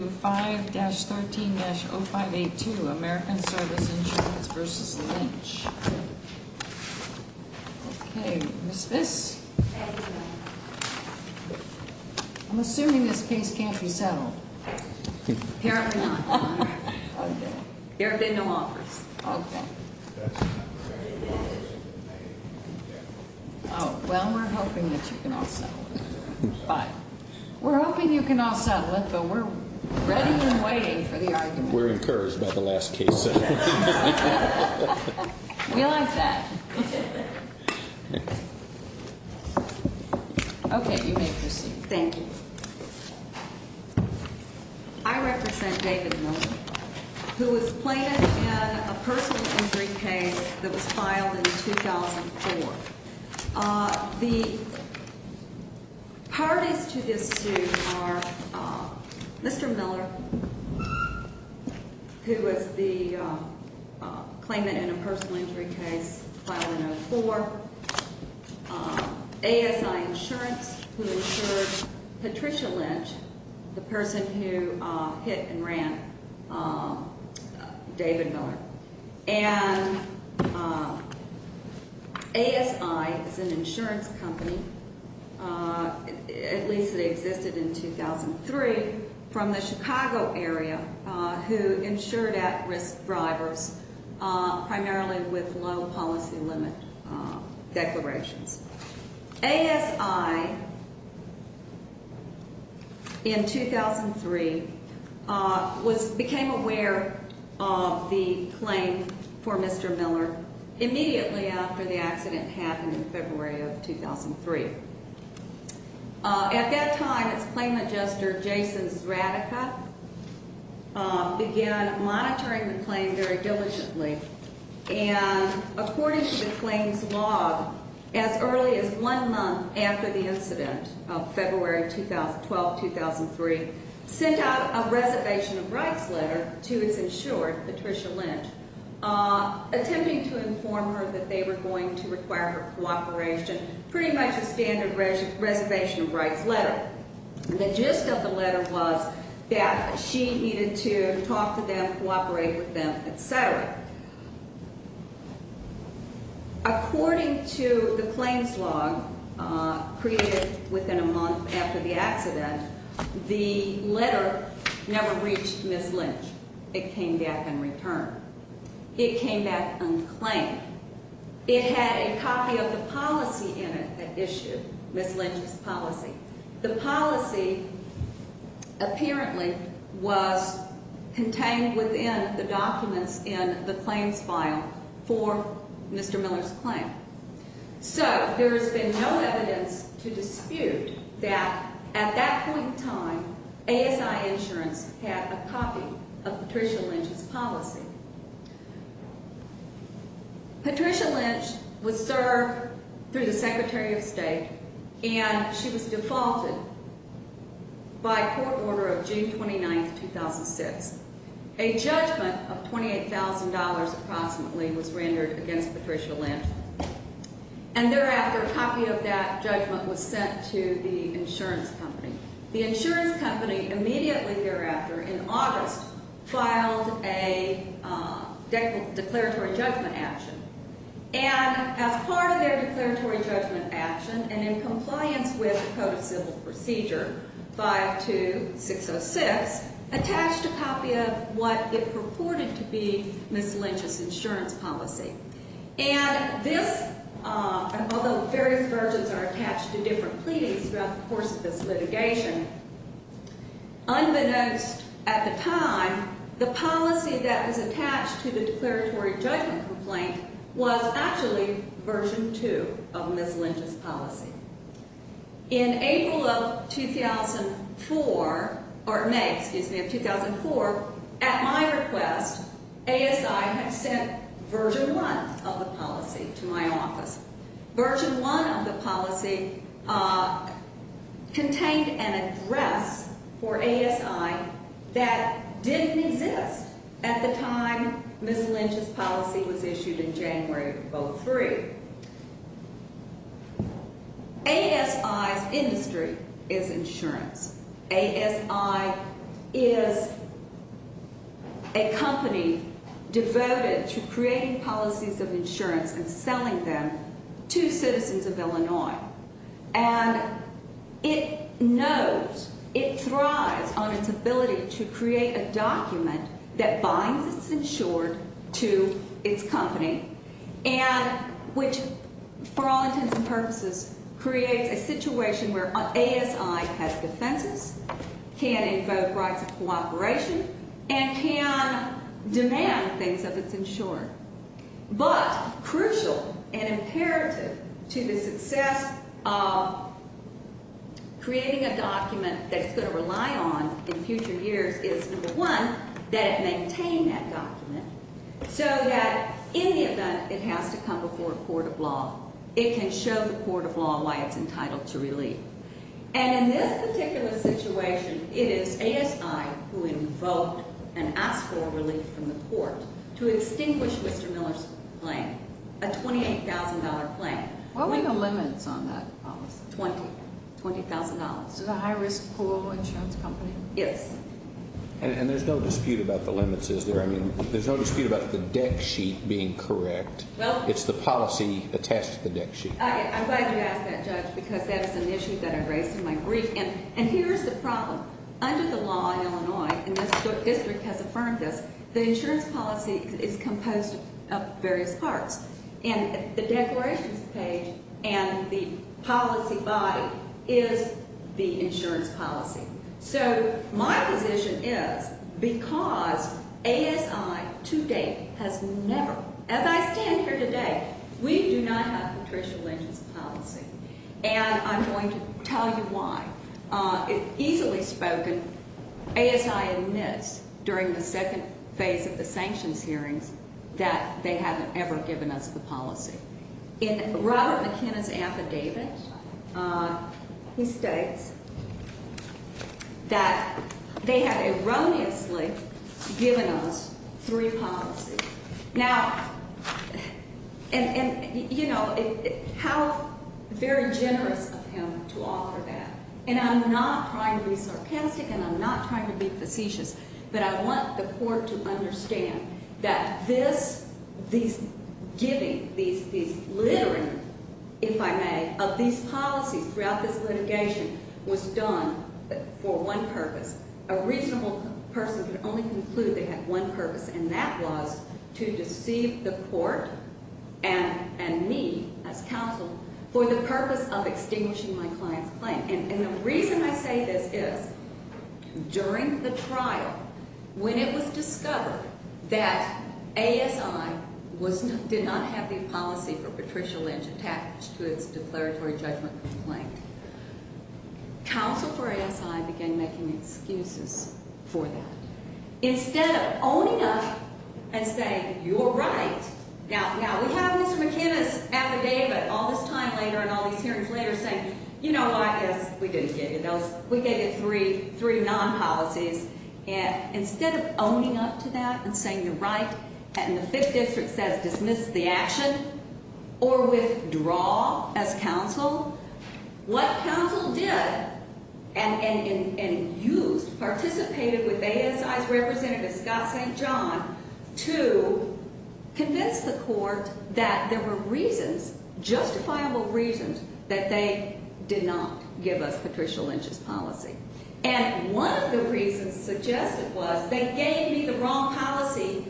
5-13-0582 American Service Insurance v. Lynch Okay, Ms. Viss? I'm assuming this case can't be settled. Apparently not. There have been no offers. Well, we're hoping that you can all settle it. We're hoping you can all settle it, but we're ready and waiting for the argument. We're encouraged by the last case. We like that. Okay, you may proceed. Thank you. I represent David Miller, who was plated in a personal injury case that was filed in 2004. The parties to this suit are Mr. Miller, who was the claimant in a personal injury case filed in 2004, ASI Insurance, who insured Patricia Lynch, the person who hit and ran David Miller, and ASI is an insurance company, at least it existed in 2003, from the Chicago area who insured at-risk drivers primarily with low policy limit declarations. ASI, in 2003, became aware of the claim for Mr. Miller immediately after the accident happened in February of 2003. At that time, its claim adjuster, Jason Zradica, began monitoring the claim very diligently, and according to the claim's log, as early as one month after the incident of February 12, 2003, sent out a reservation of rights letter to its insurer, Patricia Lynch, attempting to inform her that they were going to require her cooperation, pretty much a standard reservation of rights letter. The gist of the letter was that she needed to talk to them, cooperate with them, etc. According to the claim's log, created within a month after the accident, the letter never reached Ms. Lynch. It came back and returned. It came back unclaimed. It had a copy of the policy in it that issued Ms. Lynch's policy. The policy apparently was contained within the documents in the claims file for Mr. Miller's claim. So there has been no evidence to dispute that at that point in time, ASI insurance had a copy of Patricia Lynch's policy. Patricia Lynch was served through the Secretary of State, and she was defaulted by court order of June 29, 2006. A judgment of $28,000 approximately was rendered against Patricia Lynch, and thereafter, a copy of that judgment was sent to the insurance company. The insurance company immediately thereafter, in August, filed a declaratory judgment action. And as part of their declaratory judgment action, and in compliance with Code of Civil Procedure 52606, attached a copy of what it purported to be Ms. Lynch's insurance policy. And this, although various versions are attached to different pleadings throughout the course of this litigation, unbeknownst at the time, the policy that was attached to the declaratory judgment complaint was actually Version 2 of Ms. Lynch's policy. In April of 2004, or May, excuse me, of 2004, at my request, ASI had sent Version 1 of the policy to my office. Version 1 of the policy contained an address for ASI that didn't exist at the time Ms. Lynch's policy was issued in January of 2003. ASI's industry is insurance. ASI is a company devoted to creating policies of insurance and selling them to citizens of Illinois. And it knows, it thrives on its ability to create a document that binds its insured to its company, and which, for all intents and purposes, creates a situation where ASI has defenses, can invoke rights of cooperation, and can demand things of its insurer. But crucial and imperative to the success of creating a document that it's going to rely on in future years is, number one, that it maintain that document so that in the event it has to come before a court of law, it can show the court of law why it's entitled to relief. And in this particular situation, it is ASI who invoked and asked for relief from the court to extinguish Mr. Miller's claim, a $28,000 claim. What were the limits on that policy? $20,000. So the high-risk pool insurance company? Yes. And there's no dispute about the limits, is there? I mean, there's no dispute about the deck sheet being correct. It's the policy attached to the deck sheet. I'm glad you asked that, Judge, because that is an issue that I raised in my brief. And here's the problem. Under the law in Illinois, and this district has affirmed this, the insurance policy is composed of various parts. And the declarations page and the policy body is the insurance policy. So my position is because ASI to date has never, as I stand here today, we do not have Patricia Lynch's policy. And I'm going to tell you why. Easily spoken, ASI admits during the second phase of the sanctions hearings that they haven't ever given us the policy. In Robert McKenna's affidavit, he states that they have erroneously given us three policies. Now, and, you know, how very generous of him to offer that. And I'm not trying to be sarcastic and I'm not trying to be facetious. But I want the court to understand that this, these giving, these littering, if I may, of these policies throughout this litigation was done for one purpose. A reasonable person could only conclude they had one purpose, and that was to deceive the court and me as counsel for the purpose of extinguishing my client's claim. And the reason I say this is during the trial, when it was discovered that ASI did not have the policy for Patricia Lynch attached to its declaratory judgment complaint, counsel for ASI began making excuses for that. Instead of owning up and saying, you're right. Now, we have Mr. McKenna's affidavit all this time later and all these hearings later saying, you know what? Yes, we did give you those. We gave you three, three non-policies. And instead of owning up to that and saying, you're right, and the Fifth District says dismiss the action or withdraw as counsel, what counsel did and used, participated with ASI's representative Scott St. John to convince the court that there were reasons, justifiable reasons, that they did not give us Patricia Lynch's policy. And one of the reasons suggested was they gave me the wrong policy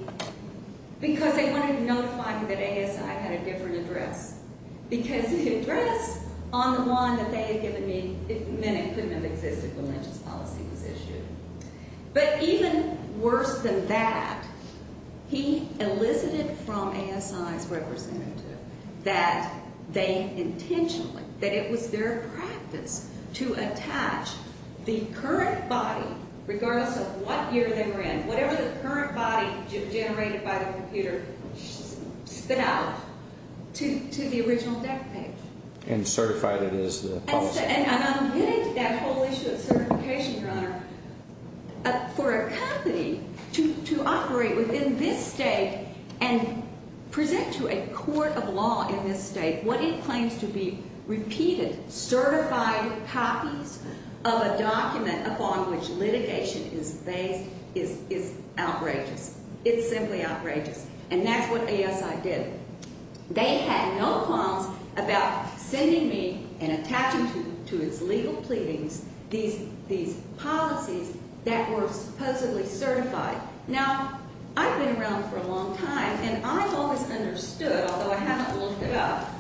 because they wanted to notify me that ASI had a different address. Because the address on the one that they had given me meant it couldn't have existed when Lynch's policy was issued. But even worse than that, he elicited from ASI's representative that they intentionally, that it was their practice to attach the current body, regardless of what year they were in, whatever the current body generated by the computer, spit out to the original deck page. And certified it as the policy. And I'm getting to that whole issue of certification, Your Honor. For a company to operate within this state and present to a court of law in this state what it claims to be repeated certified copies of a document upon which litigation is based is outrageous. It's simply outrageous. And that's what ASI did. They had no qualms about sending me and attaching to its legal pleadings these policies that were supposedly certified. Now, I've been around for a long time, and I've always understood, although I haven't looked it up,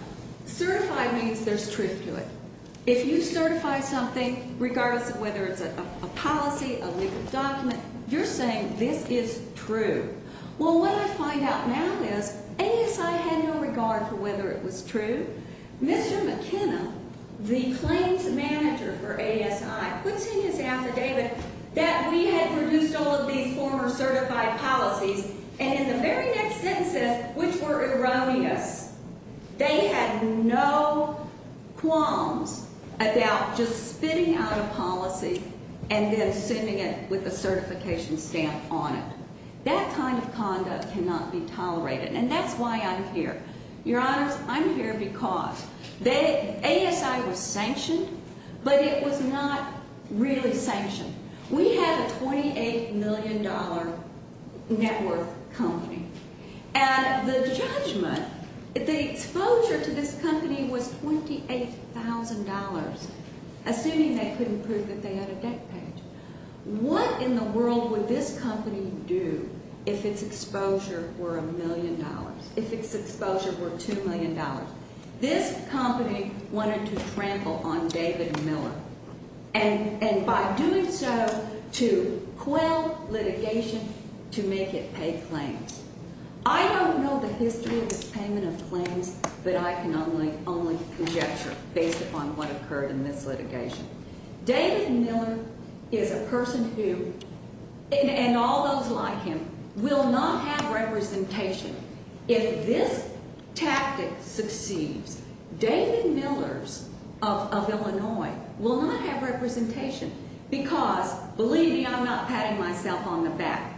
certified means there's truth to it. If you certify something, regardless of whether it's a policy, a legal document, you're saying this is true. Well, what I find out now is ASI had no regard for whether it was true. Mr. McKenna, the claims manager for ASI, puts in his affidavit that we had produced all of these former certified policies. And in the very next sentences, which were erroneous, they had no qualms about just spitting out a policy and then sending it with a certification stamp on it. That kind of conduct cannot be tolerated. And that's why I'm here. Your Honors, I'm here because ASI was sanctioned, but it was not really sanctioned. We had a $28 million net worth company. And the judgment, the exposure to this company was $28,000, assuming they couldn't prove that they had a debt page. What in the world would this company do if its exposure were $1 million, if its exposure were $2 million? This company wanted to trample on David Miller. And by doing so, to quell litigation, to make it pay claims. I don't know the history of its payment of claims, but I can only conjecture based upon what occurred in this litigation. David Miller is a person who, and all those like him, will not have representation. If this tactic succeeds, David Miller's of Illinois will not have representation. Because, believe me, I'm not patting myself on the back.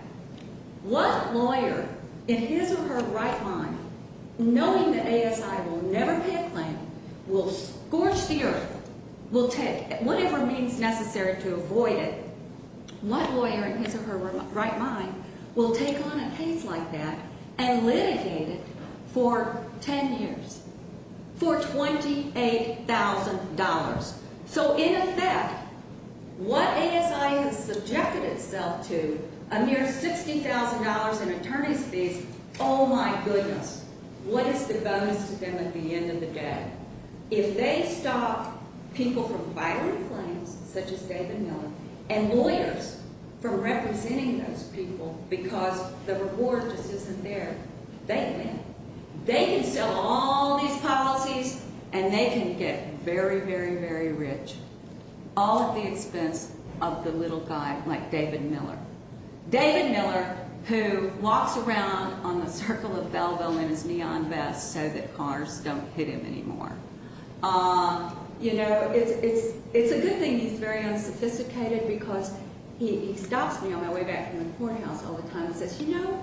What lawyer in his or her right mind, knowing that ASI will never pay a claim, will scorch the earth, will take whatever means necessary to avoid it. What lawyer in his or her right mind will take on a case like that and litigate it for 10 years for $28,000? So in effect, what ASI has subjected itself to, a mere $60,000 in attorney's fees, oh my goodness, what is the bonus to them at the end of the day? If they stop people from filing claims, such as David Miller, and lawyers from representing those people because the reward just isn't there, they win. They can sell all these policies, and they can get very, very, very rich, all at the expense of the little guy like David Miller. David Miller, who walks around on the circle of Balboa in his neon vest so that cars don't hit him anymore. You know, it's a good thing he's very unsophisticated because he stops me on my way back from the courthouse all the time and says, you know,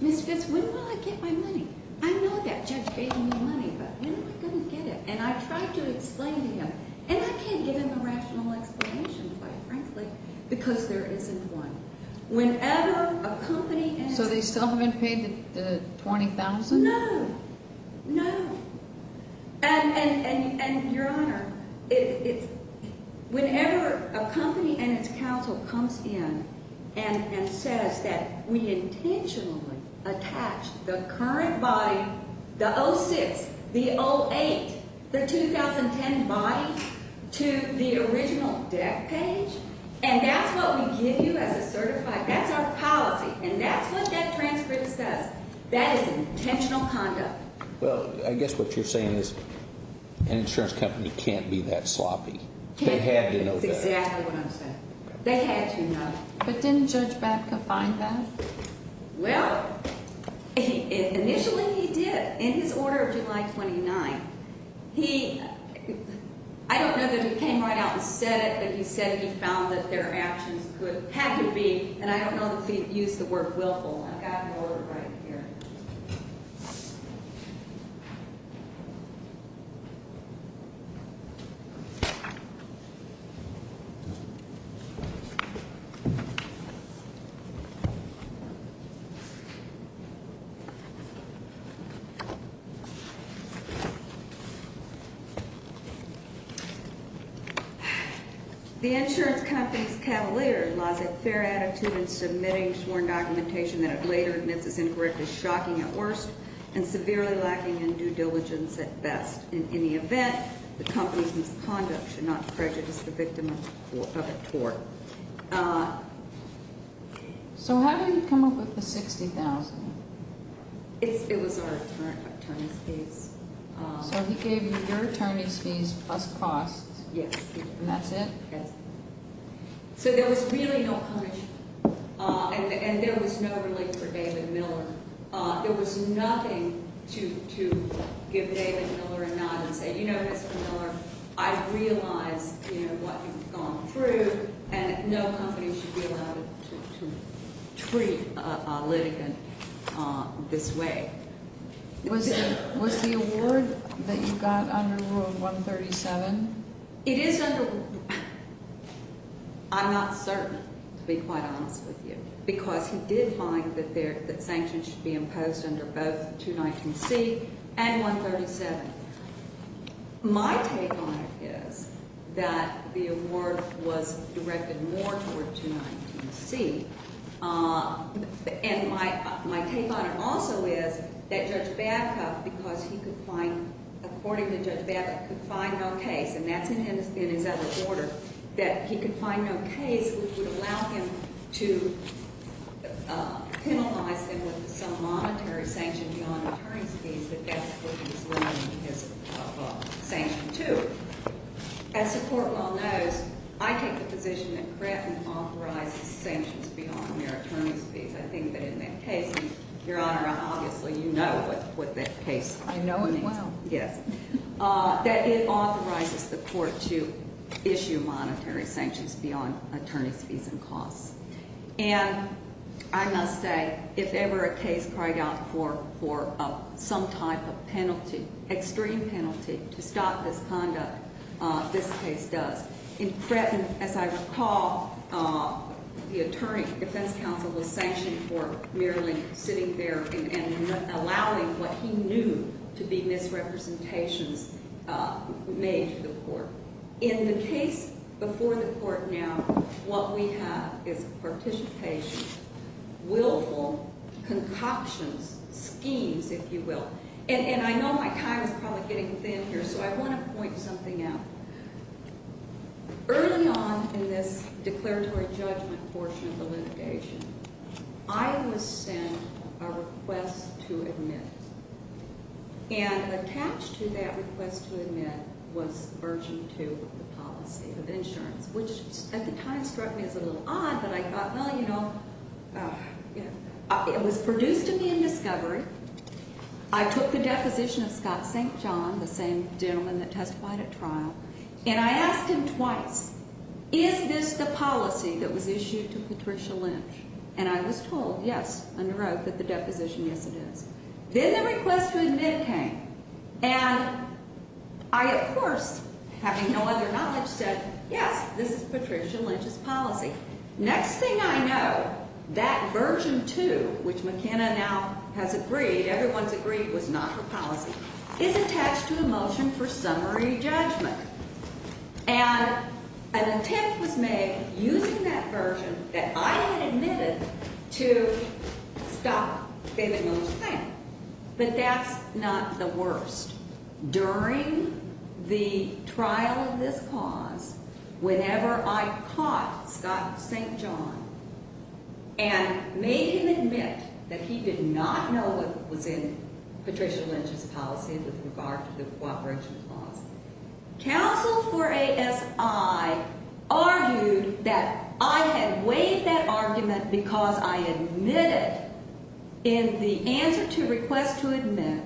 Ms. Fitz, when will I get my money? I know that judge gave me money, but when am I going to get it? And I tried to explain to him, and I can't give him a rational explanation, quite frankly, because there isn't one. Whenever a company asks… So they still haven't paid the $20,000? No, no. And, Your Honor, whenever a company and its counsel comes in and says that we intentionally attached the current body, the 06, the 08, the 2010 body to the original debt page, and that's what we give you as a certified, that's our policy, and that's what that transcript says. That is intentional conduct. Well, I guess what you're saying is an insurance company can't be that sloppy. They had to know that. That's exactly what I'm saying. They had to know. But didn't Judge Baca find that? Well, initially he did. In his order of July 29th, he – I don't know that he came right out and said it, but he said he found that their actions could – had to be – and I don't know if he used the word willful. I've got an order right here. The insurance company's cavalier lies a fair attitude in submitting sworn documentation that it later admits is incorrectly shocking at worst and severely lacking in due diligence at best. In any event, the company's misconduct should not prejudice the victim of a tort. So how did he come up with the $60,000? It was our attorney's fees. So he gave you your attorney's fees plus costs. Yes. And that's it? Yes. So there was really no punishment, and there was no relief for David Miller. There was nothing to give David Miller a nod and say, you know, Mr. Miller, I realize what you've gone through, and no company should be allowed to treat a litigant this way. Was the award that you got under Rule 137? It is under – I'm not certain, to be quite honest with you, because he did find that sanctions should be imposed under both 219C and 137. My take on it is that the award was directed more toward 219C, and my take on it also is that Judge Babcock, because he could find – according to Judge Babcock, could find no case, and that's in his other order, that he could find no case which would allow him to penalize him with some monetary sanction beyond attorney's fees, but that's what he's limiting his sanction to. As the Court well knows, I take the position that Creighton authorizes sanctions beyond their attorney's fees. I think that in that case, and Your Honor, obviously you know what that case means. I know it well. Yes. That it authorizes the Court to issue monetary sanctions beyond attorney's fees and costs. And I must say, if ever a case cried out for some type of penalty, extreme penalty, to stop this conduct, this case does. In Creighton, as I recall, the attorney, defense counsel, was sanctioned for merely sitting there and allowing what he knew to be misrepresentations made to the Court. In the case before the Court now, what we have is participation, willful concoctions, schemes, if you will. And I know my time is probably getting thin here, so I want to point something out. Early on in this declaratory judgment portion of the litigation, I was sent a request to admit. And attached to that request to admit was urging to the policy of insurance, which at the time struck me as a little odd. But I thought, well, you know, it was produced to me in discovery. I took the deposition of Scott St. John, the same gentleman that testified at trial. And I asked him twice, is this the policy that was issued to Patricia Lynch? And I was told, yes, under oath, that the deposition, yes, it is. Then the request to admit came. And I, of course, having no other knowledge, said, yes, this is Patricia Lynch's policy. Next thing I know, that version 2, which McKenna now has agreed, everyone's agreed was not her policy, is attached to a motion for summary judgment. And an attempt was made using that version that I had admitted to stop the motion. But that's not the worst. During the trial of this cause, whenever I caught Scott St. John and made him admit that he did not know what was in Patricia Lynch's policy with regard to the cooperation clause, counsel for ASI argued that I had waived that argument because I admitted in the answer to request to admit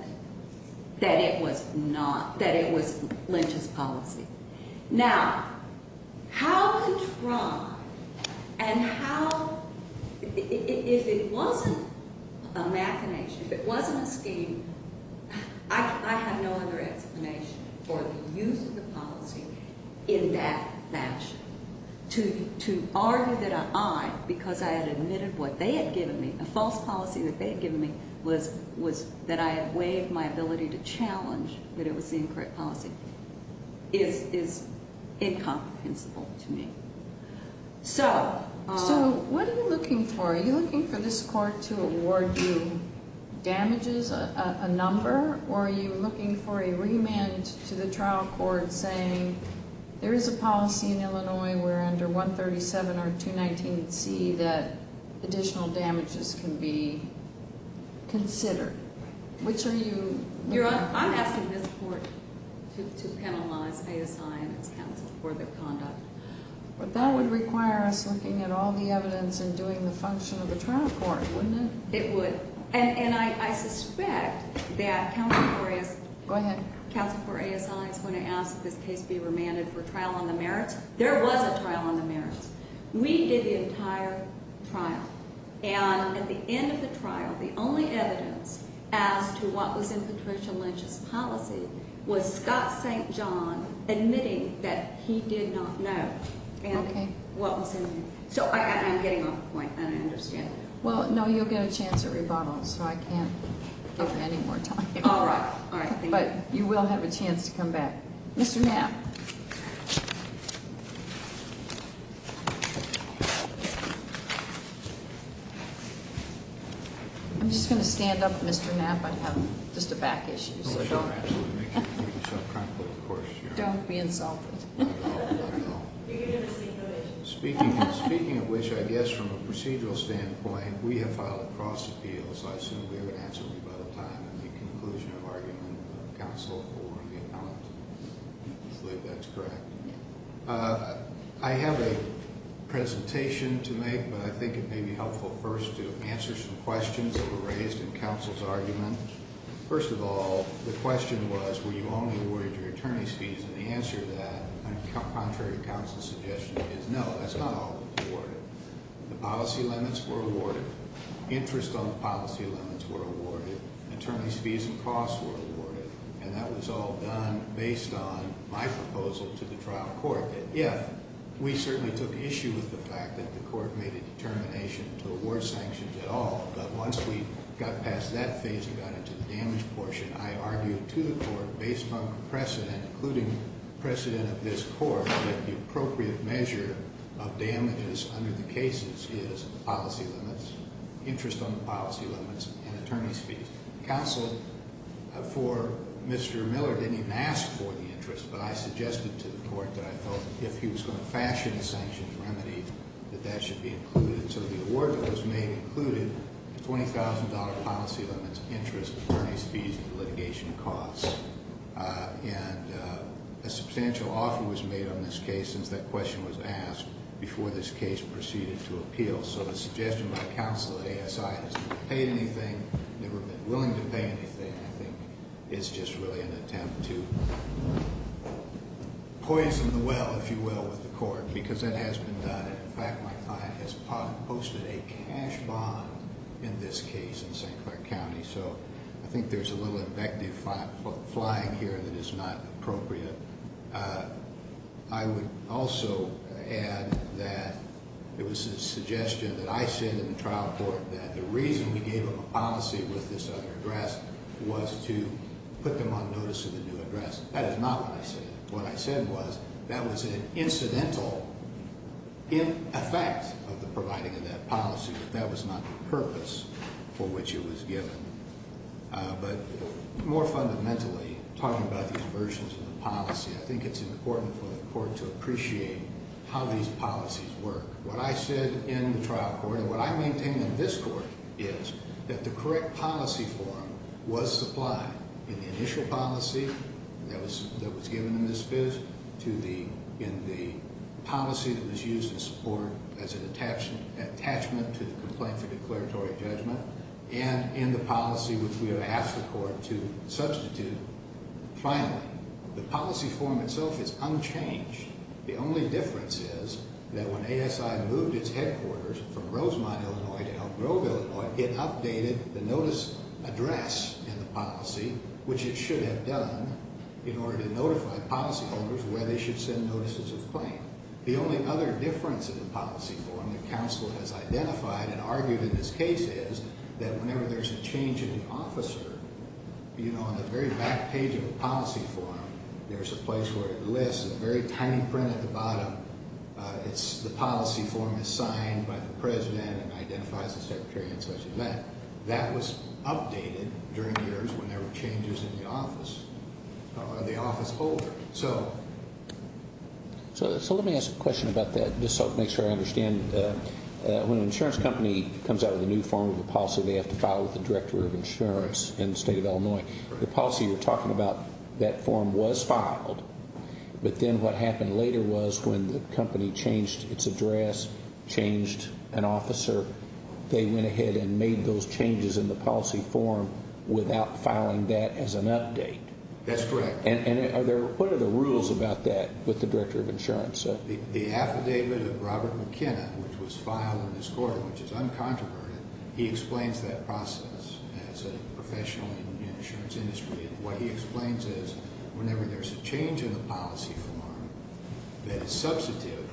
that it was not, that it was Lynch's policy. Now, how could Trump and how, if it wasn't a machination, if it wasn't a scheme, I have no other explanation for the use of the policy in that fashion. To argue that I, because I had admitted what they had given me, a false policy that they had given me, that I had waived my ability to challenge that it was the incorrect policy is incomprehensible to me. So- So what are you looking for? Are you looking for this court to award you damages, a number? Or are you looking for a remand to the trial court saying there is a policy in Illinois where under 137 or 219C that additional damages can be considered? Which are you- I'm asking this court to penalize ASI and its counsel for their conduct. But that would require us looking at all the evidence and doing the function of the trial court, wouldn't it? It would. And I suspect that counsel for ASI- Go ahead. Counsel for ASI is going to ask that this case be remanded for trial on the merits. There was a trial on the merits. We did the entire trial. And at the end of the trial, the only evidence as to what was in Patricia Lynch's policy was Scott St. John admitting that he did not know. Okay. And what was in it. So I'm getting off point, and I understand that. Well, no, you'll get a chance at rebuttal, so I can't give you any more time. All right. But you will have a chance to come back. Mr. Knapp. I'm just going to stand up, Mr. Knapp. I have just a back issue. Make yourself comfortable, of course. Don't be insulted. Speaking of which, I guess from a procedural standpoint, we have filed a cross appeal, so I assume we would answer by the time at the conclusion of argument of counsel for the appellant. I believe that's correct. I have a presentation to make, but I think it may be helpful first to answer some questions that were raised in counsel's argument. First of all, the question was, were you only awarded your attorney's fees? And the answer to that, contrary to counsel's suggestion, is no, that's not all that was awarded. The policy limits were awarded. Interest on the policy limits were awarded. Attorney's fees and costs were awarded. And that was all done based on my proposal to the trial court that, yes, we certainly took issue with the fact that the court made a determination to award sanctions at all. But once we got past that phase and got into the damage portion, I argued to the court based on precedent, including precedent of this court, that the appropriate measure of damages under the cases is policy limits, interest on the policy limits, and attorney's fees. Counsel for Mr. Miller didn't even ask for the interest, but I suggested to the court that I felt if he was going to fashion a sanctions remedy, that that should be included. So the award that was made included $20,000 policy limits, interest, attorney's fees, and litigation costs. And a substantial offer was made on this case since that question was asked before this case proceeded to appeal. So the suggestion by counsel at ASI has never paid anything, never been willing to pay anything. I think it's just really an attempt to poison the well, if you will, with the court, because that has been done. In fact, my client has posted a cash bond in this case in St. Clair County. So I think there's a little invective flying here that is not appropriate. I would also add that it was a suggestion that I said in the trial court that the reason we gave him a policy with this other address was to put them on notice of the new address. That is not what I said. What I said was that was an incidental effect of the providing of that policy, but that was not the purpose for which it was given. But more fundamentally, talking about these versions of the policy, I think it's important for the court to appreciate how these policies work. What I said in the trial court and what I maintain in this court is that the correct policy form was supplied in the initial policy that was given in this biz, in the policy that was used in support as an attachment to the complaint for declaratory judgment, and in the policy which we have asked the court to substitute. Finally, the policy form itself is unchanged. The only difference is that when ASI moved its headquarters from Rosemont, Illinois to Elk Grove, Illinois, it updated the notice address in the policy, which it should have done, in order to notify policyholders where they should send notices of claim. The only other difference in the policy form that counsel has identified and argued in this case is that whenever there's a change in the officer, on the very back page of the policy form, there's a place where it lists, a very tiny print at the bottom, the policy form is signed by the president and identifies the secretary and such. That was updated during the years when there were changes in the office holder. So let me ask a question about that, just to make sure I understand. When an insurance company comes out with a new form of a policy, they have to file with the director of insurance in the state of Illinois. The policy you're talking about, that form was filed, but then what happened later was when the company changed its address, changed an officer, they went ahead and made those changes in the policy form without filing that as an update. That's correct. And what are the rules about that with the director of insurance? The affidavit of Robert McKenna, which was filed in his court, which is uncontroverted, he explains that process as a professional in the insurance industry. And what he explains is whenever there's a change in the policy form that is substantive,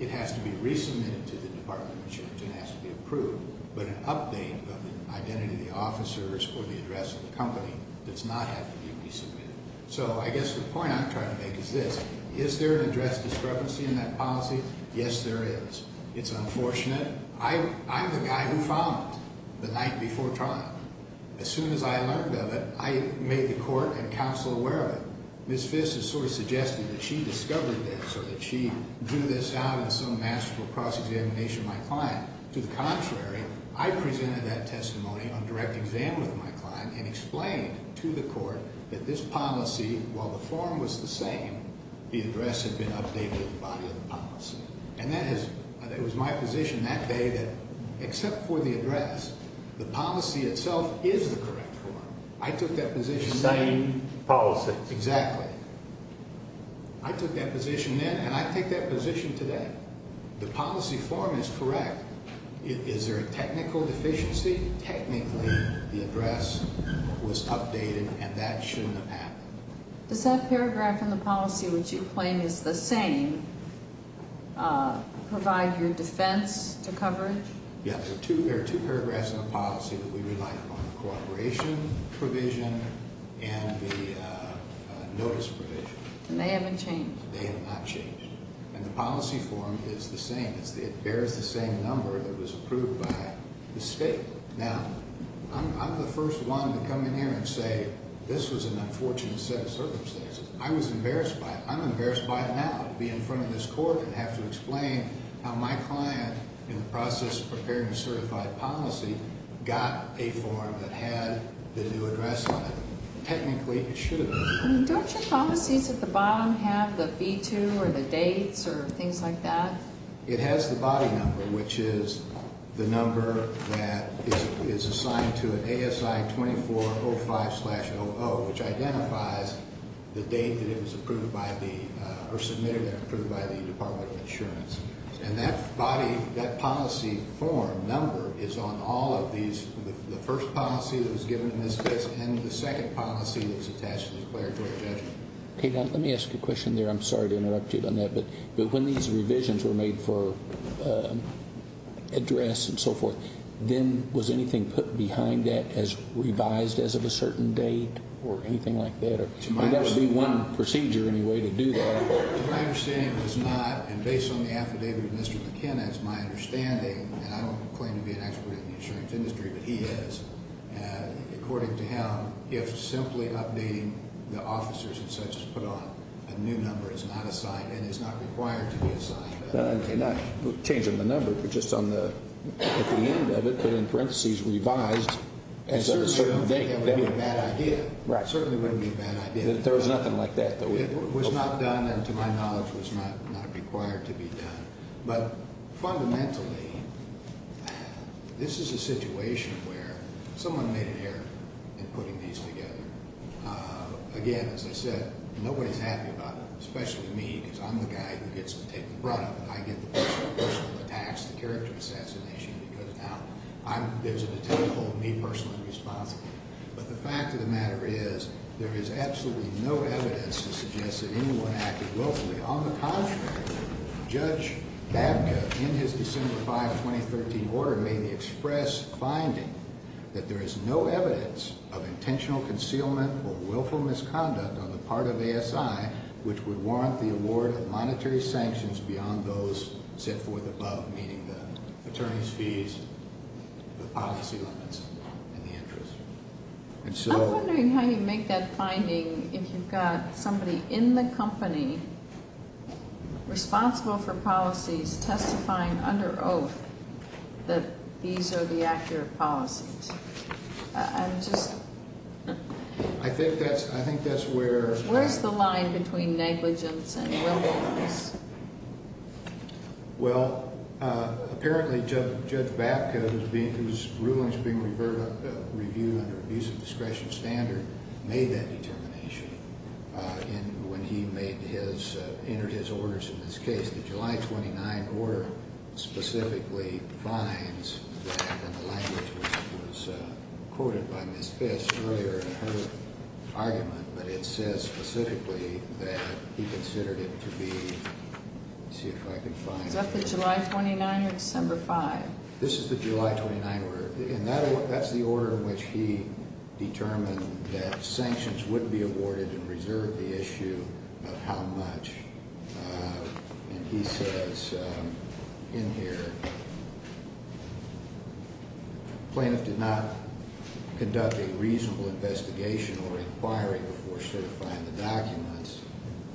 it has to be resubmitted to the Department of Insurance and has to be approved. But an update of the identity of the officers or the address of the company does not have to be resubmitted. So I guess the point I'm trying to make is this. Is there an address discrepancy in that policy? Yes, there is. It's unfortunate. I'm the guy who filed it the night before trial. As soon as I learned of it, I made the court and counsel aware of it. Ms. Fiss has sort of suggested that she discovered this or that she drew this out in some masterful cross-examination of my client. To the contrary, I presented that testimony on direct exam with my client and explained to the court that this policy, while the form was the same, the address had been updated with the body of the policy. And that was my position that day that except for the address, the policy itself is the correct form. I took that position then. The same policy. Exactly. I took that position then, and I take that position today. The policy form is correct. Is there a technical deficiency? Technically, the address was updated, and that shouldn't have happened. Does that paragraph in the policy, which you claim is the same, provide your defense to coverage? Yes. There are two paragraphs in the policy that we relied upon, the cooperation provision and the notice provision. And they haven't changed? They have not changed. And the policy form is the same. It bears the same number that was approved by the state. Now, I'm the first one to come in here and say this was an unfortunate set of circumstances. I was embarrassed by it. I'm embarrassed by it now to be in front of this court and have to explain how my client, in the process of preparing a certified policy, got a form that had the new address on it. Technically, it should have been. Don't your policies at the bottom have the B-2 or the dates or things like that? It has the body number, which is the number that is assigned to it, ASI 2405-00, which identifies the date that it was approved by the or submitted and approved by the Department of Insurance. And that policy form number is on all of these. The first policy that was given in this case and the second policy that was attached to the declaratory judgment. Let me ask you a question there. I'm sorry to interrupt you on that. But when these revisions were made for address and so forth, then was anything put behind that as revised as of a certain date or anything like that? Or would that be one procedure anyway to do that? To my understanding, it was not. And based on the affidavit of Mr. McKinnon, it's my understanding, and I don't claim to be an expert in the insurance industry, but he is, according to him, if simply updating the officers and such is put on, a new number is not assigned and is not required to be assigned. Not changing the number, but just on the end of it, put in parentheses, revised. It certainly wouldn't be a bad idea. Right. It certainly wouldn't be a bad idea. There was nothing like that. It was not done and, to my knowledge, was not required to be done. But fundamentally, this is a situation where someone made an error in putting these together. Again, as I said, nobody's happy about it, especially me, because I'm the guy who gets to take the brunt of it. I get the personal attacks, the character assassination, because now there's a detainee holding me personally responsible. But the fact of the matter is there is absolutely no evidence to suggest that anyone acted willfully. On the contrary, Judge Babka, in his December 5, 2013 order, made the express finding that there is no evidence of intentional concealment or willful misconduct on the part of ASI, which would warrant the award of monetary sanctions beyond those set forth above, meaning the attorney's fees, the policy limits, and the interest. I'm wondering how you make that finding if you've got somebody in the company responsible for policies testifying under oath that these are the accurate policies. I'm just... I think that's where... Where's the line between negligence and willfulness? Well, apparently Judge Babka, whose ruling is being reviewed under abuse of discretion standard, made that determination when he made his... entered his orders in this case. The July 29 order specifically finds that, and the language was quoted by Ms. Fish earlier in her argument, but it says specifically that he considered it to be... Let's see if I can find it. Is that the July 29 or December 5? This is the July 29 order. And that's the order in which he determined that sanctions would be awarded and reserved the issue of how much. And he says in here, plaintiff did not conduct a reasonable investigation or inquiry before certifying the documents.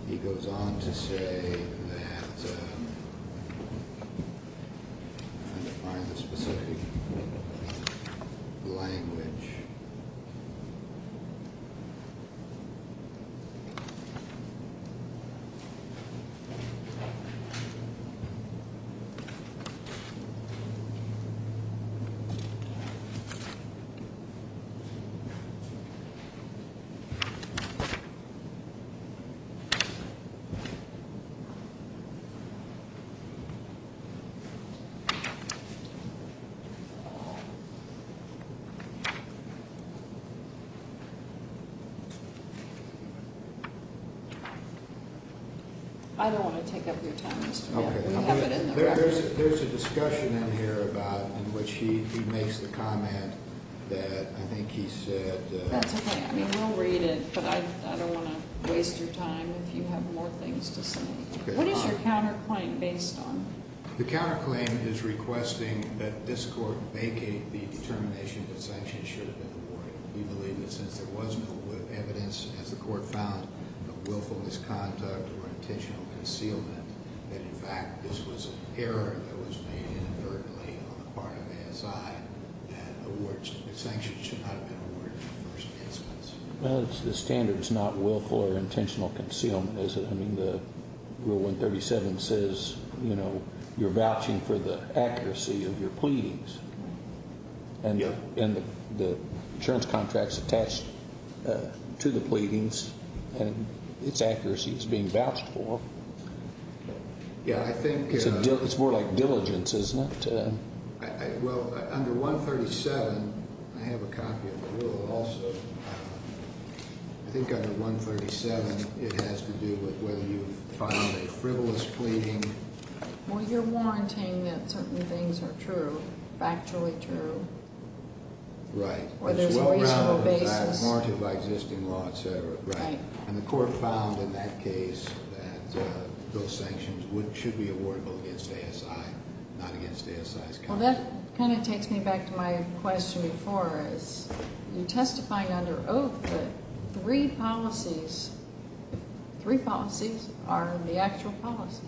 He goes on to say that... I'm trying to find the specific language. Okay. I don't want to take up your time. Okay. There's a discussion in here about... in which he makes the comment that I think he said... That's okay. I mean, we'll read it, but I don't want to waste your time if you have more things to say. What is your counterclaim based on? The counterclaim is requesting that this court vacate the determination that sanctions should have been awarded. We believe that since there was no evidence, as the court found, of willful misconduct or intentional concealment, that, in fact, this was an error that was made inadvertently on the part of ASI that sanctions should not have been awarded in the first instance. Well, the standard is not willful or intentional concealment, is it? I mean, the Rule 137 says, you know, you're vouching for the accuracy of your pleadings. And the insurance contract is attached to the pleadings, and its accuracy is being vouched for. Yeah, I think... It's more like diligence, isn't it? Well, under 137, I have a copy of the Rule also. I think under 137 it has to do with whether you've filed a frivolous pleading. Well, you're warranting that certain things are true, factually true. Right. Whether it's a reasonable basis. Guaranteed by existing law, et cetera. Right. And the court found in that case that those sanctions should be awardable against ASI, not against ASI's counsel. Well, that kind of takes me back to my question before, is you're testifying under oath, but three policies are the actual policies.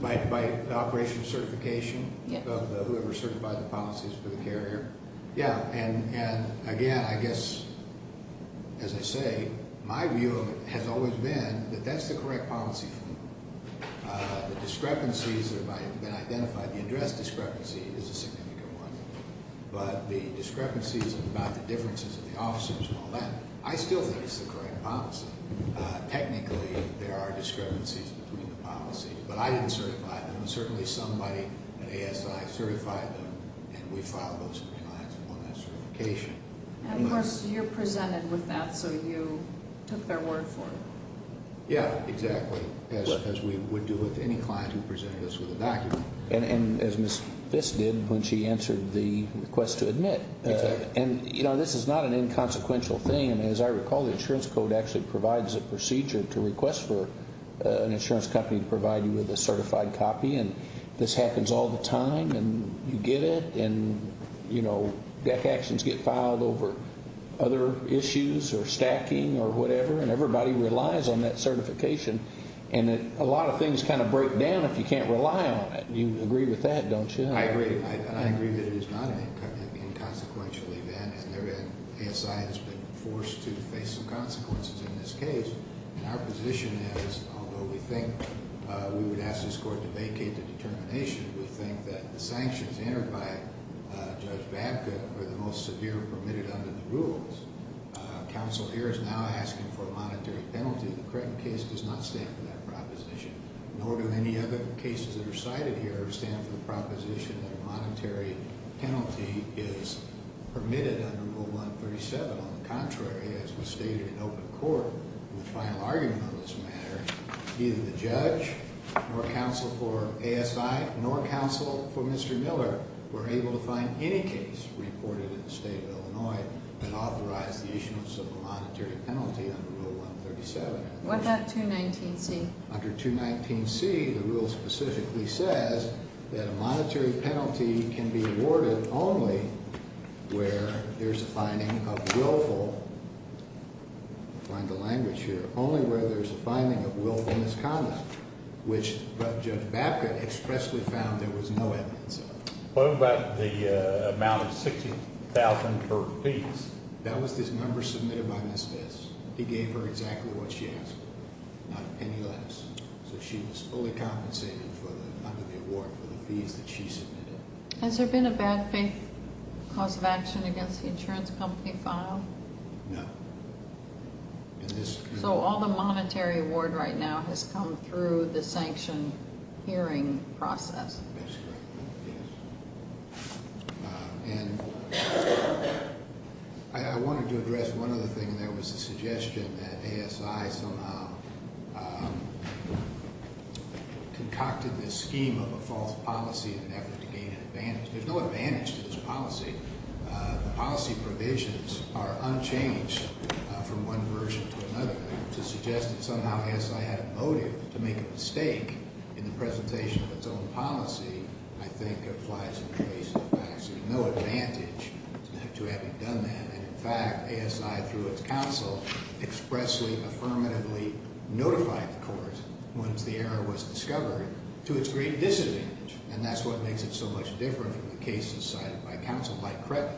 By operation of certification of whoever certified the policies for the carrier? Yeah, and, again, I guess, as I say, my view of it has always been that that's the correct policy for you. The discrepancies that have been identified, the address discrepancy is a significant one, but the discrepancies about the differences of the officers and all that, I still think it's the correct policy. Technically, there are discrepancies between the policies, but I didn't certify them. And, of course, you're presented with that, so you took their word for it. Yeah, exactly, as we would do with any client who presented us with a document. And as Ms. Fisk did when she answered the request to admit. Exactly. And, you know, this is not an inconsequential thing. As I recall, the insurance code actually provides a procedure to request for an insurance company to provide you with a certified copy, and this happens all the time, and you get it, and, you know, deck actions get filed over other issues or stacking or whatever, and everybody relies on that certification. And a lot of things kind of break down if you can't rely on it. You agree with that, don't you? I agree. I agree that it is not an inconsequential event, and ASI has been forced to face some consequences in this case. And our position is, although we think we would ask this court to vacate the determination, we think that the sanctions entered by Judge Babcock were the most severe permitted under the rules. Counsel here is now asking for a monetary penalty. The Cretton case does not stand for that proposition, nor do any other cases that are cited here stand for the proposition that a monetary penalty is permitted under Rule 137. On the contrary, as was stated in open court in the final argument on this matter, neither the judge nor counsel for ASI nor counsel for Mr. Miller were able to find any case reported in the state of Illinois that authorized the issuance of a monetary penalty under Rule 137. What about 219C? Under 219C, the rule specifically says that a monetary penalty can be awarded only where there's a finding of willful, find the language here, only where there's a finding of willful misconduct, which Judge Babcock expressly found there was no evidence of. What about the amount of $60,000 for fees? That was the number submitted by Ms. Vest. He gave her exactly what she asked for, not a penny less. So she was fully compensated under the award for the fees that she submitted. Has there been a bad faith cause of action against the insurance company file? No. So all the monetary award right now has come through the sanction hearing process? That's correct, yes. And I wanted to address one other thing. There was a suggestion that ASI somehow concocted this scheme of a false policy in an effort to gain an advantage. There's no advantage to this policy. The policy provisions are unchanged from one version to another. To suggest that somehow ASI had a motive to make a mistake in the presentation of its own policy, I think, applies and traces the facts. There's no advantage to having done that. And, in fact, ASI, through its counsel, expressly, affirmatively notified the court, once the error was discovered, to its great disadvantage. And that's what makes it so much different from the cases cited by counsel, like Creighton,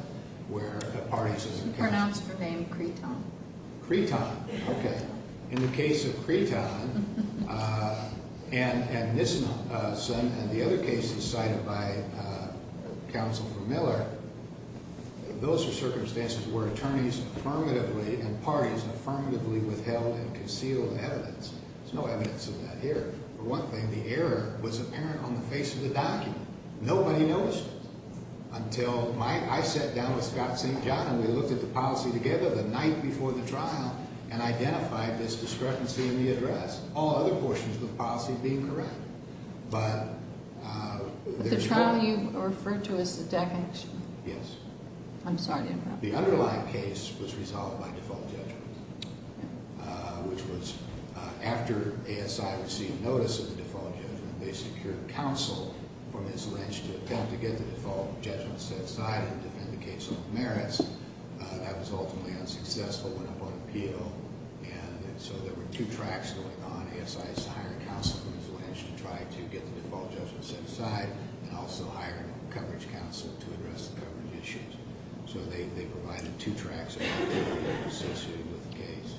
where the parties is a case. You pronounced her name Creighton? Creighton, okay. In the case of Creighton and Nisman, and the other cases cited by counsel for Miller, those are circumstances where attorneys affirmatively and parties affirmatively withheld and concealed evidence. There's no evidence of that here. For one thing, the error was apparent on the face of the document. Nobody noticed it until I sat down with Scott St. John and we looked at the policy together the night before the trial and identified this discrepancy in the address, all other portions of the policy being correct. But the trial you referred to is the definition? Yes. I'm sorry. The underlying case was resolved by default judgment, which was after ASI received notice of the default judgment, they secured counsel from his lynch to attempt to get the default judgment set aside and defend the case of merits. That was ultimately unsuccessful and up on appeal. And so there were two tracks going on. ASI is to hire counsel from his lynch to try to get the default judgment set aside and also hire coverage counsel to address the government issues. So they provided two tracks associated with the case.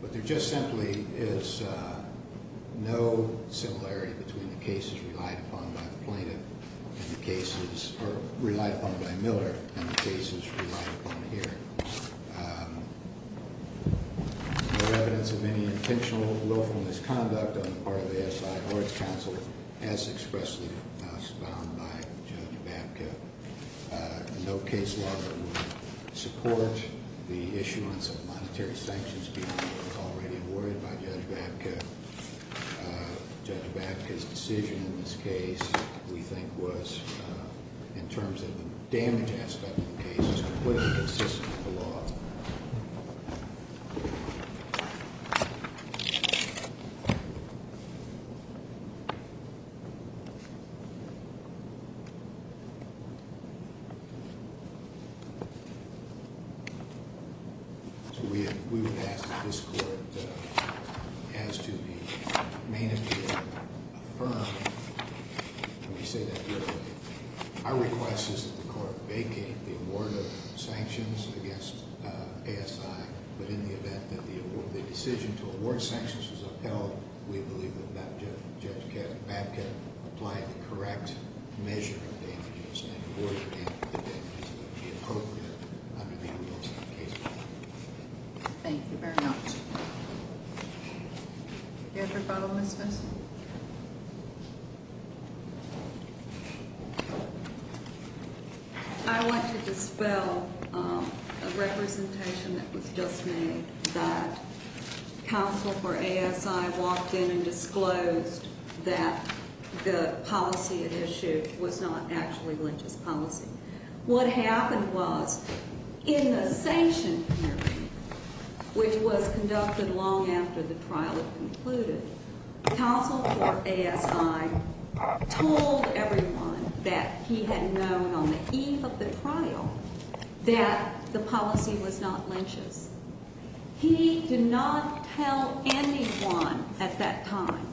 But there just simply is no similarity between the cases relied upon by the plaintiff and the cases relied upon by Miller and the cases relied upon here. No evidence of any intentional lawful misconduct on the part of ASI or its counsel as expressly found by Judge Babka. No case law that would support the issuance of monetary sanctions being already awarded by Judge Babka. Judge Babka's decision in this case we think was, in terms of the damage aspect of the case, was completely inconsistent with the law. Thank you. We would ask that this court has to be main appeal affirmed. Let me say that here. Our request is that the court vacate the award of sanctions against ASI. But in the event that the decision to award sanctions is upheld, we believe that Judge Babka applied the correct measure of damages and awarded the damages that would be appropriate under the rules of the case. Thank you very much. Are there further questions? I want to dispel a representation that was just made, that counsel for ASI walked in and disclosed that the policy at issue was not actually religious policy. What happened was, in the sanction hearing, which was conducted long after the trial had concluded, counsel for ASI told everyone that he had known on the eve of the trial that the policy was not lynch's. He did not tell anyone at that time.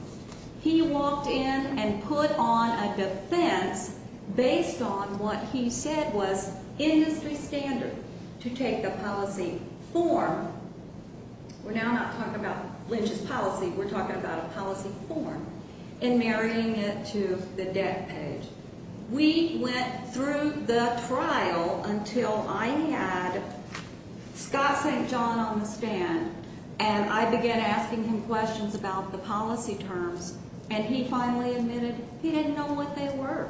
He walked in and put on a defense based on what he said was industry standard to take the policy form. We're now not talking about lynch's policy. We're talking about a policy form and marrying it to the debt page. We went through the trial until I had Scott St. John on the stand, and I began asking him questions about the policy terms, and he finally admitted he didn't know what they were.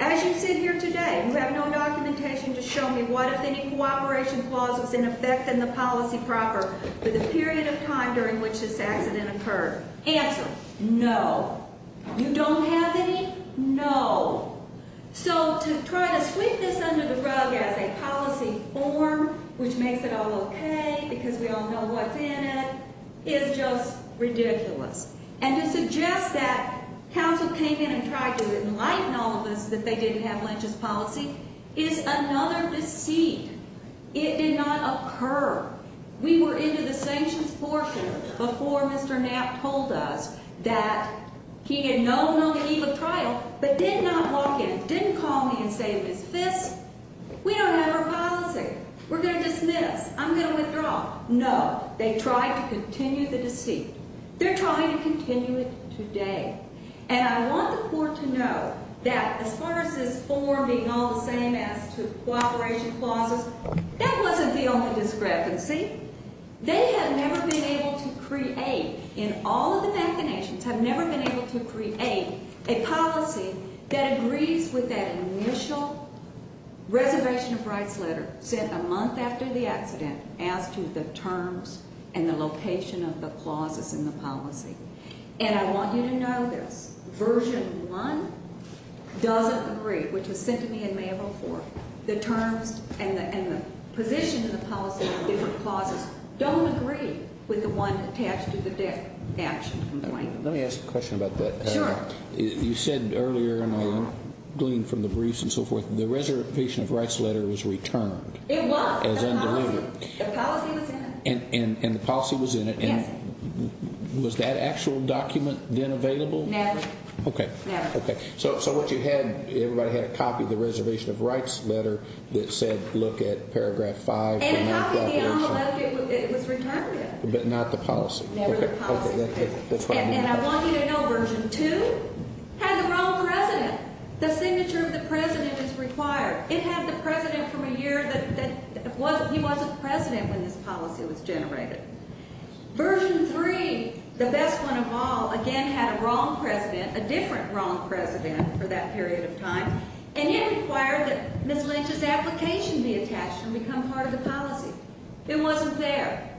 As you sit here today, you have no documentation to show me what, if any, cooperation clause was in effect in the policy proper for the period of time during which this accident occurred. Answer, no. You don't have any? No. So to try to sweep this under the rug as a policy form, which makes it all okay because we all know what's in it, is just ridiculous. And to suggest that counsel came in and tried to enlighten all of us that they didn't have lynch's policy is another deceit. It did not occur. We were into the sanctions portion before Mr. Knapp told us that he had known on the eve of trial, but did not walk in, didn't call me and say, Ms. Fisk, we don't have our policy. We're going to dismiss. I'm going to withdraw. No. They tried to continue the deceit. They're trying to continue it today. And I want the court to know that as far as this form being all the same as to cooperation clauses, that wasn't the only discrepancy. They have never been able to create, in all of the machinations, have never been able to create a policy that agrees with that initial reservation of rights letter sent a month after the accident as to the terms and the location of the clauses in the policy. And I want you to know this. Version one doesn't agree, which was sent to me in May of 04. The terms and the position of the policy on different clauses don't agree with the one attached to the death action complaint. Let me ask a question about that. Sure. You said earlier, and I gleaned from the briefs and so forth, the reservation of rights letter was returned. It was. As undelivered. The policy was in it. And the policy was in it. Yes. And was that actual document then available? Never. Okay. Never. Okay. So what you had, everybody had a copy of the reservation of rights letter that said, look at paragraph five. And a copy of the envelope that it was returned in. But not the policy. Never the policy. Okay. And I want you to know version two had the wrong president. The signature of the president is required. It had the president from a year that he wasn't president when this policy was generated. Version three, the best one of all, again had a wrong president, a different wrong president for that period of time. And it required that Ms. Lynch's application be attached and become part of the policy. It wasn't there.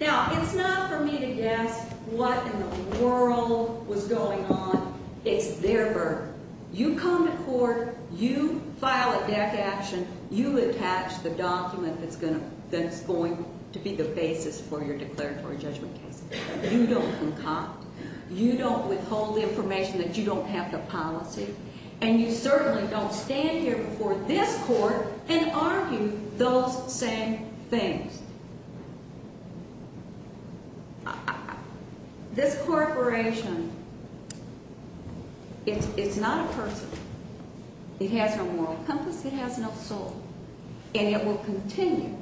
Now, it's not for me to guess what in the world was going on. It's their burden. You come to court. You file a death action. You attach the document that's going to be the basis for your declaratory judgment case. You don't concoct. You don't withhold the information that you don't have the policy. And you certainly don't stand here before this court and argue those same things. This corporation, it's not a person. It has no moral compass. It has no soul. And it will continue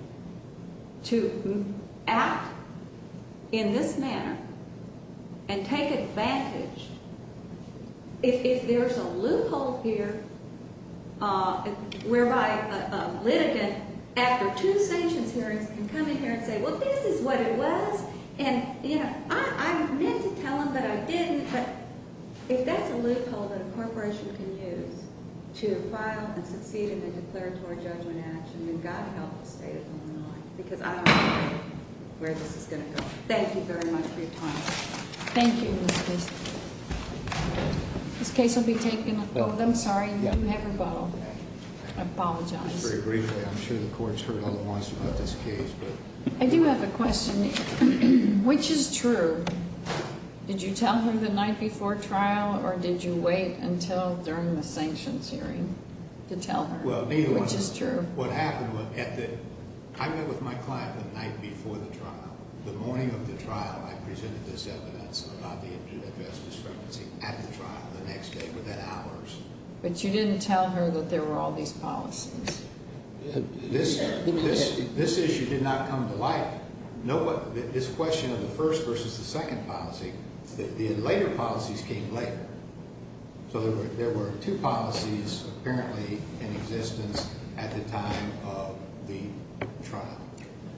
to act in this manner and take advantage. If there's a loophole here whereby a litigant, after two sanctions hearings, can come in here and say, well, this is what it was. And, you know, I meant to tell them that I didn't. But if that's a loophole that a corporation can use to file and succeed in a declaratory judgment action, then God help the state of Illinois. Because I don't know where this is going to go. Thank you very much for your time. Thank you, Ms. Casey. This case will be taken. Oh, I'm sorry. You never bow. I apologize. Just very briefly. I'm sure the court's heard all the wants about this case. I do have a question. Which is true? Did you tell her the night before trial, or did you wait until during the sanctions hearing to tell her? Well, neither. Which is true? What happened was, I met with my client the night before the trial. The morning of the trial, I presented this evidence about the address discrepancy at the trial the next day, within hours. But you didn't tell her that there were all these policies. This issue did not come to light. This question of the first versus the second policy, the later policies came later. So there were two policies apparently in existence at the time of the trial.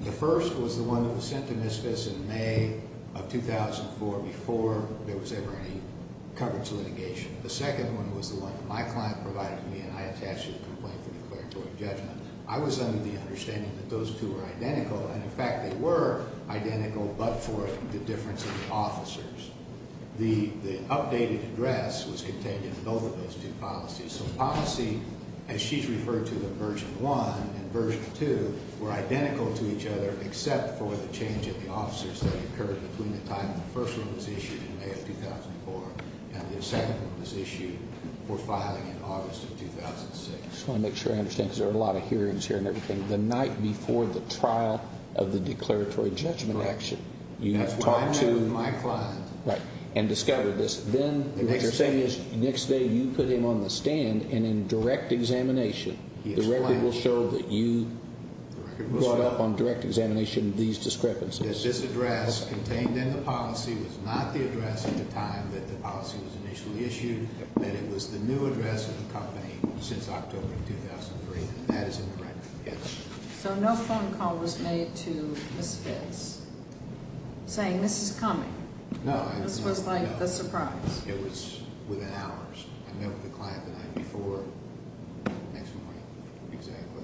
The first was the one that was sent to MSFIS in May of 2004, before there was ever any coverage litigation. The second one was the one that my client provided to me, and I attached it to the complaint for declaratory judgment. I was under the understanding that those two were identical. And, in fact, they were identical, but for the difference of the officers. The updated address was contained in both of those two policies. So policy, as she's referred to in Version 1 and Version 2, were identical to each other, except for the change in the officers that occurred between the time the first one was issued in May of 2004 and the second one was issued before filing in August of 2006. I just want to make sure I understand, because there are a lot of hearings here and everything. The night before the trial of the declaratory judgment action, you talked to my client and discovered this. Then what you're saying is the next day you put him on the stand, and in direct examination, the record will show that you brought up on direct examination these discrepancies. This address contained in the policy was not the address at the time that the policy was initially issued, that it was the new address of the company since October of 2003, and that is incorrect. Yes. So no phone call was made to Ms. Fitts saying, this is coming. No. This was like a surprise. It was within hours. I met with the client the night before, the next morning, exactly.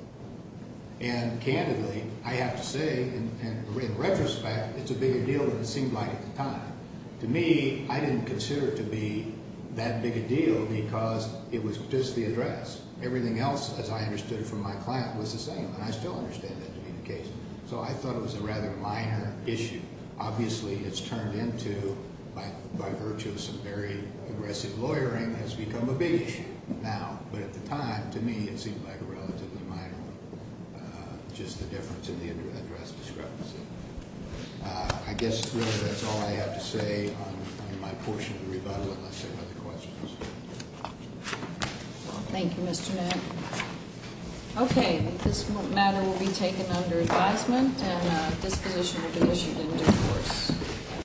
And candidly, I have to say, in retrospect, it's a bigger deal than it seemed like at the time. To me, I didn't consider it to be that big a deal because it was just the address. Everything else, as I understood it from my client, was the same, and I still understand that to be the case. So I thought it was a rather minor issue. Obviously, it's turned into, by virtue of some very aggressive lawyering, has become a big issue now. But at the time, to me, it seemed like a relatively minor one, just the difference in the address discrepancy. I guess, really, that's all I have to say on my portion of the rebuttal unless there are other questions. Thank you, Mr. Manning. Okay. This matter will be taken under advisement, and disposition will be issued in due course.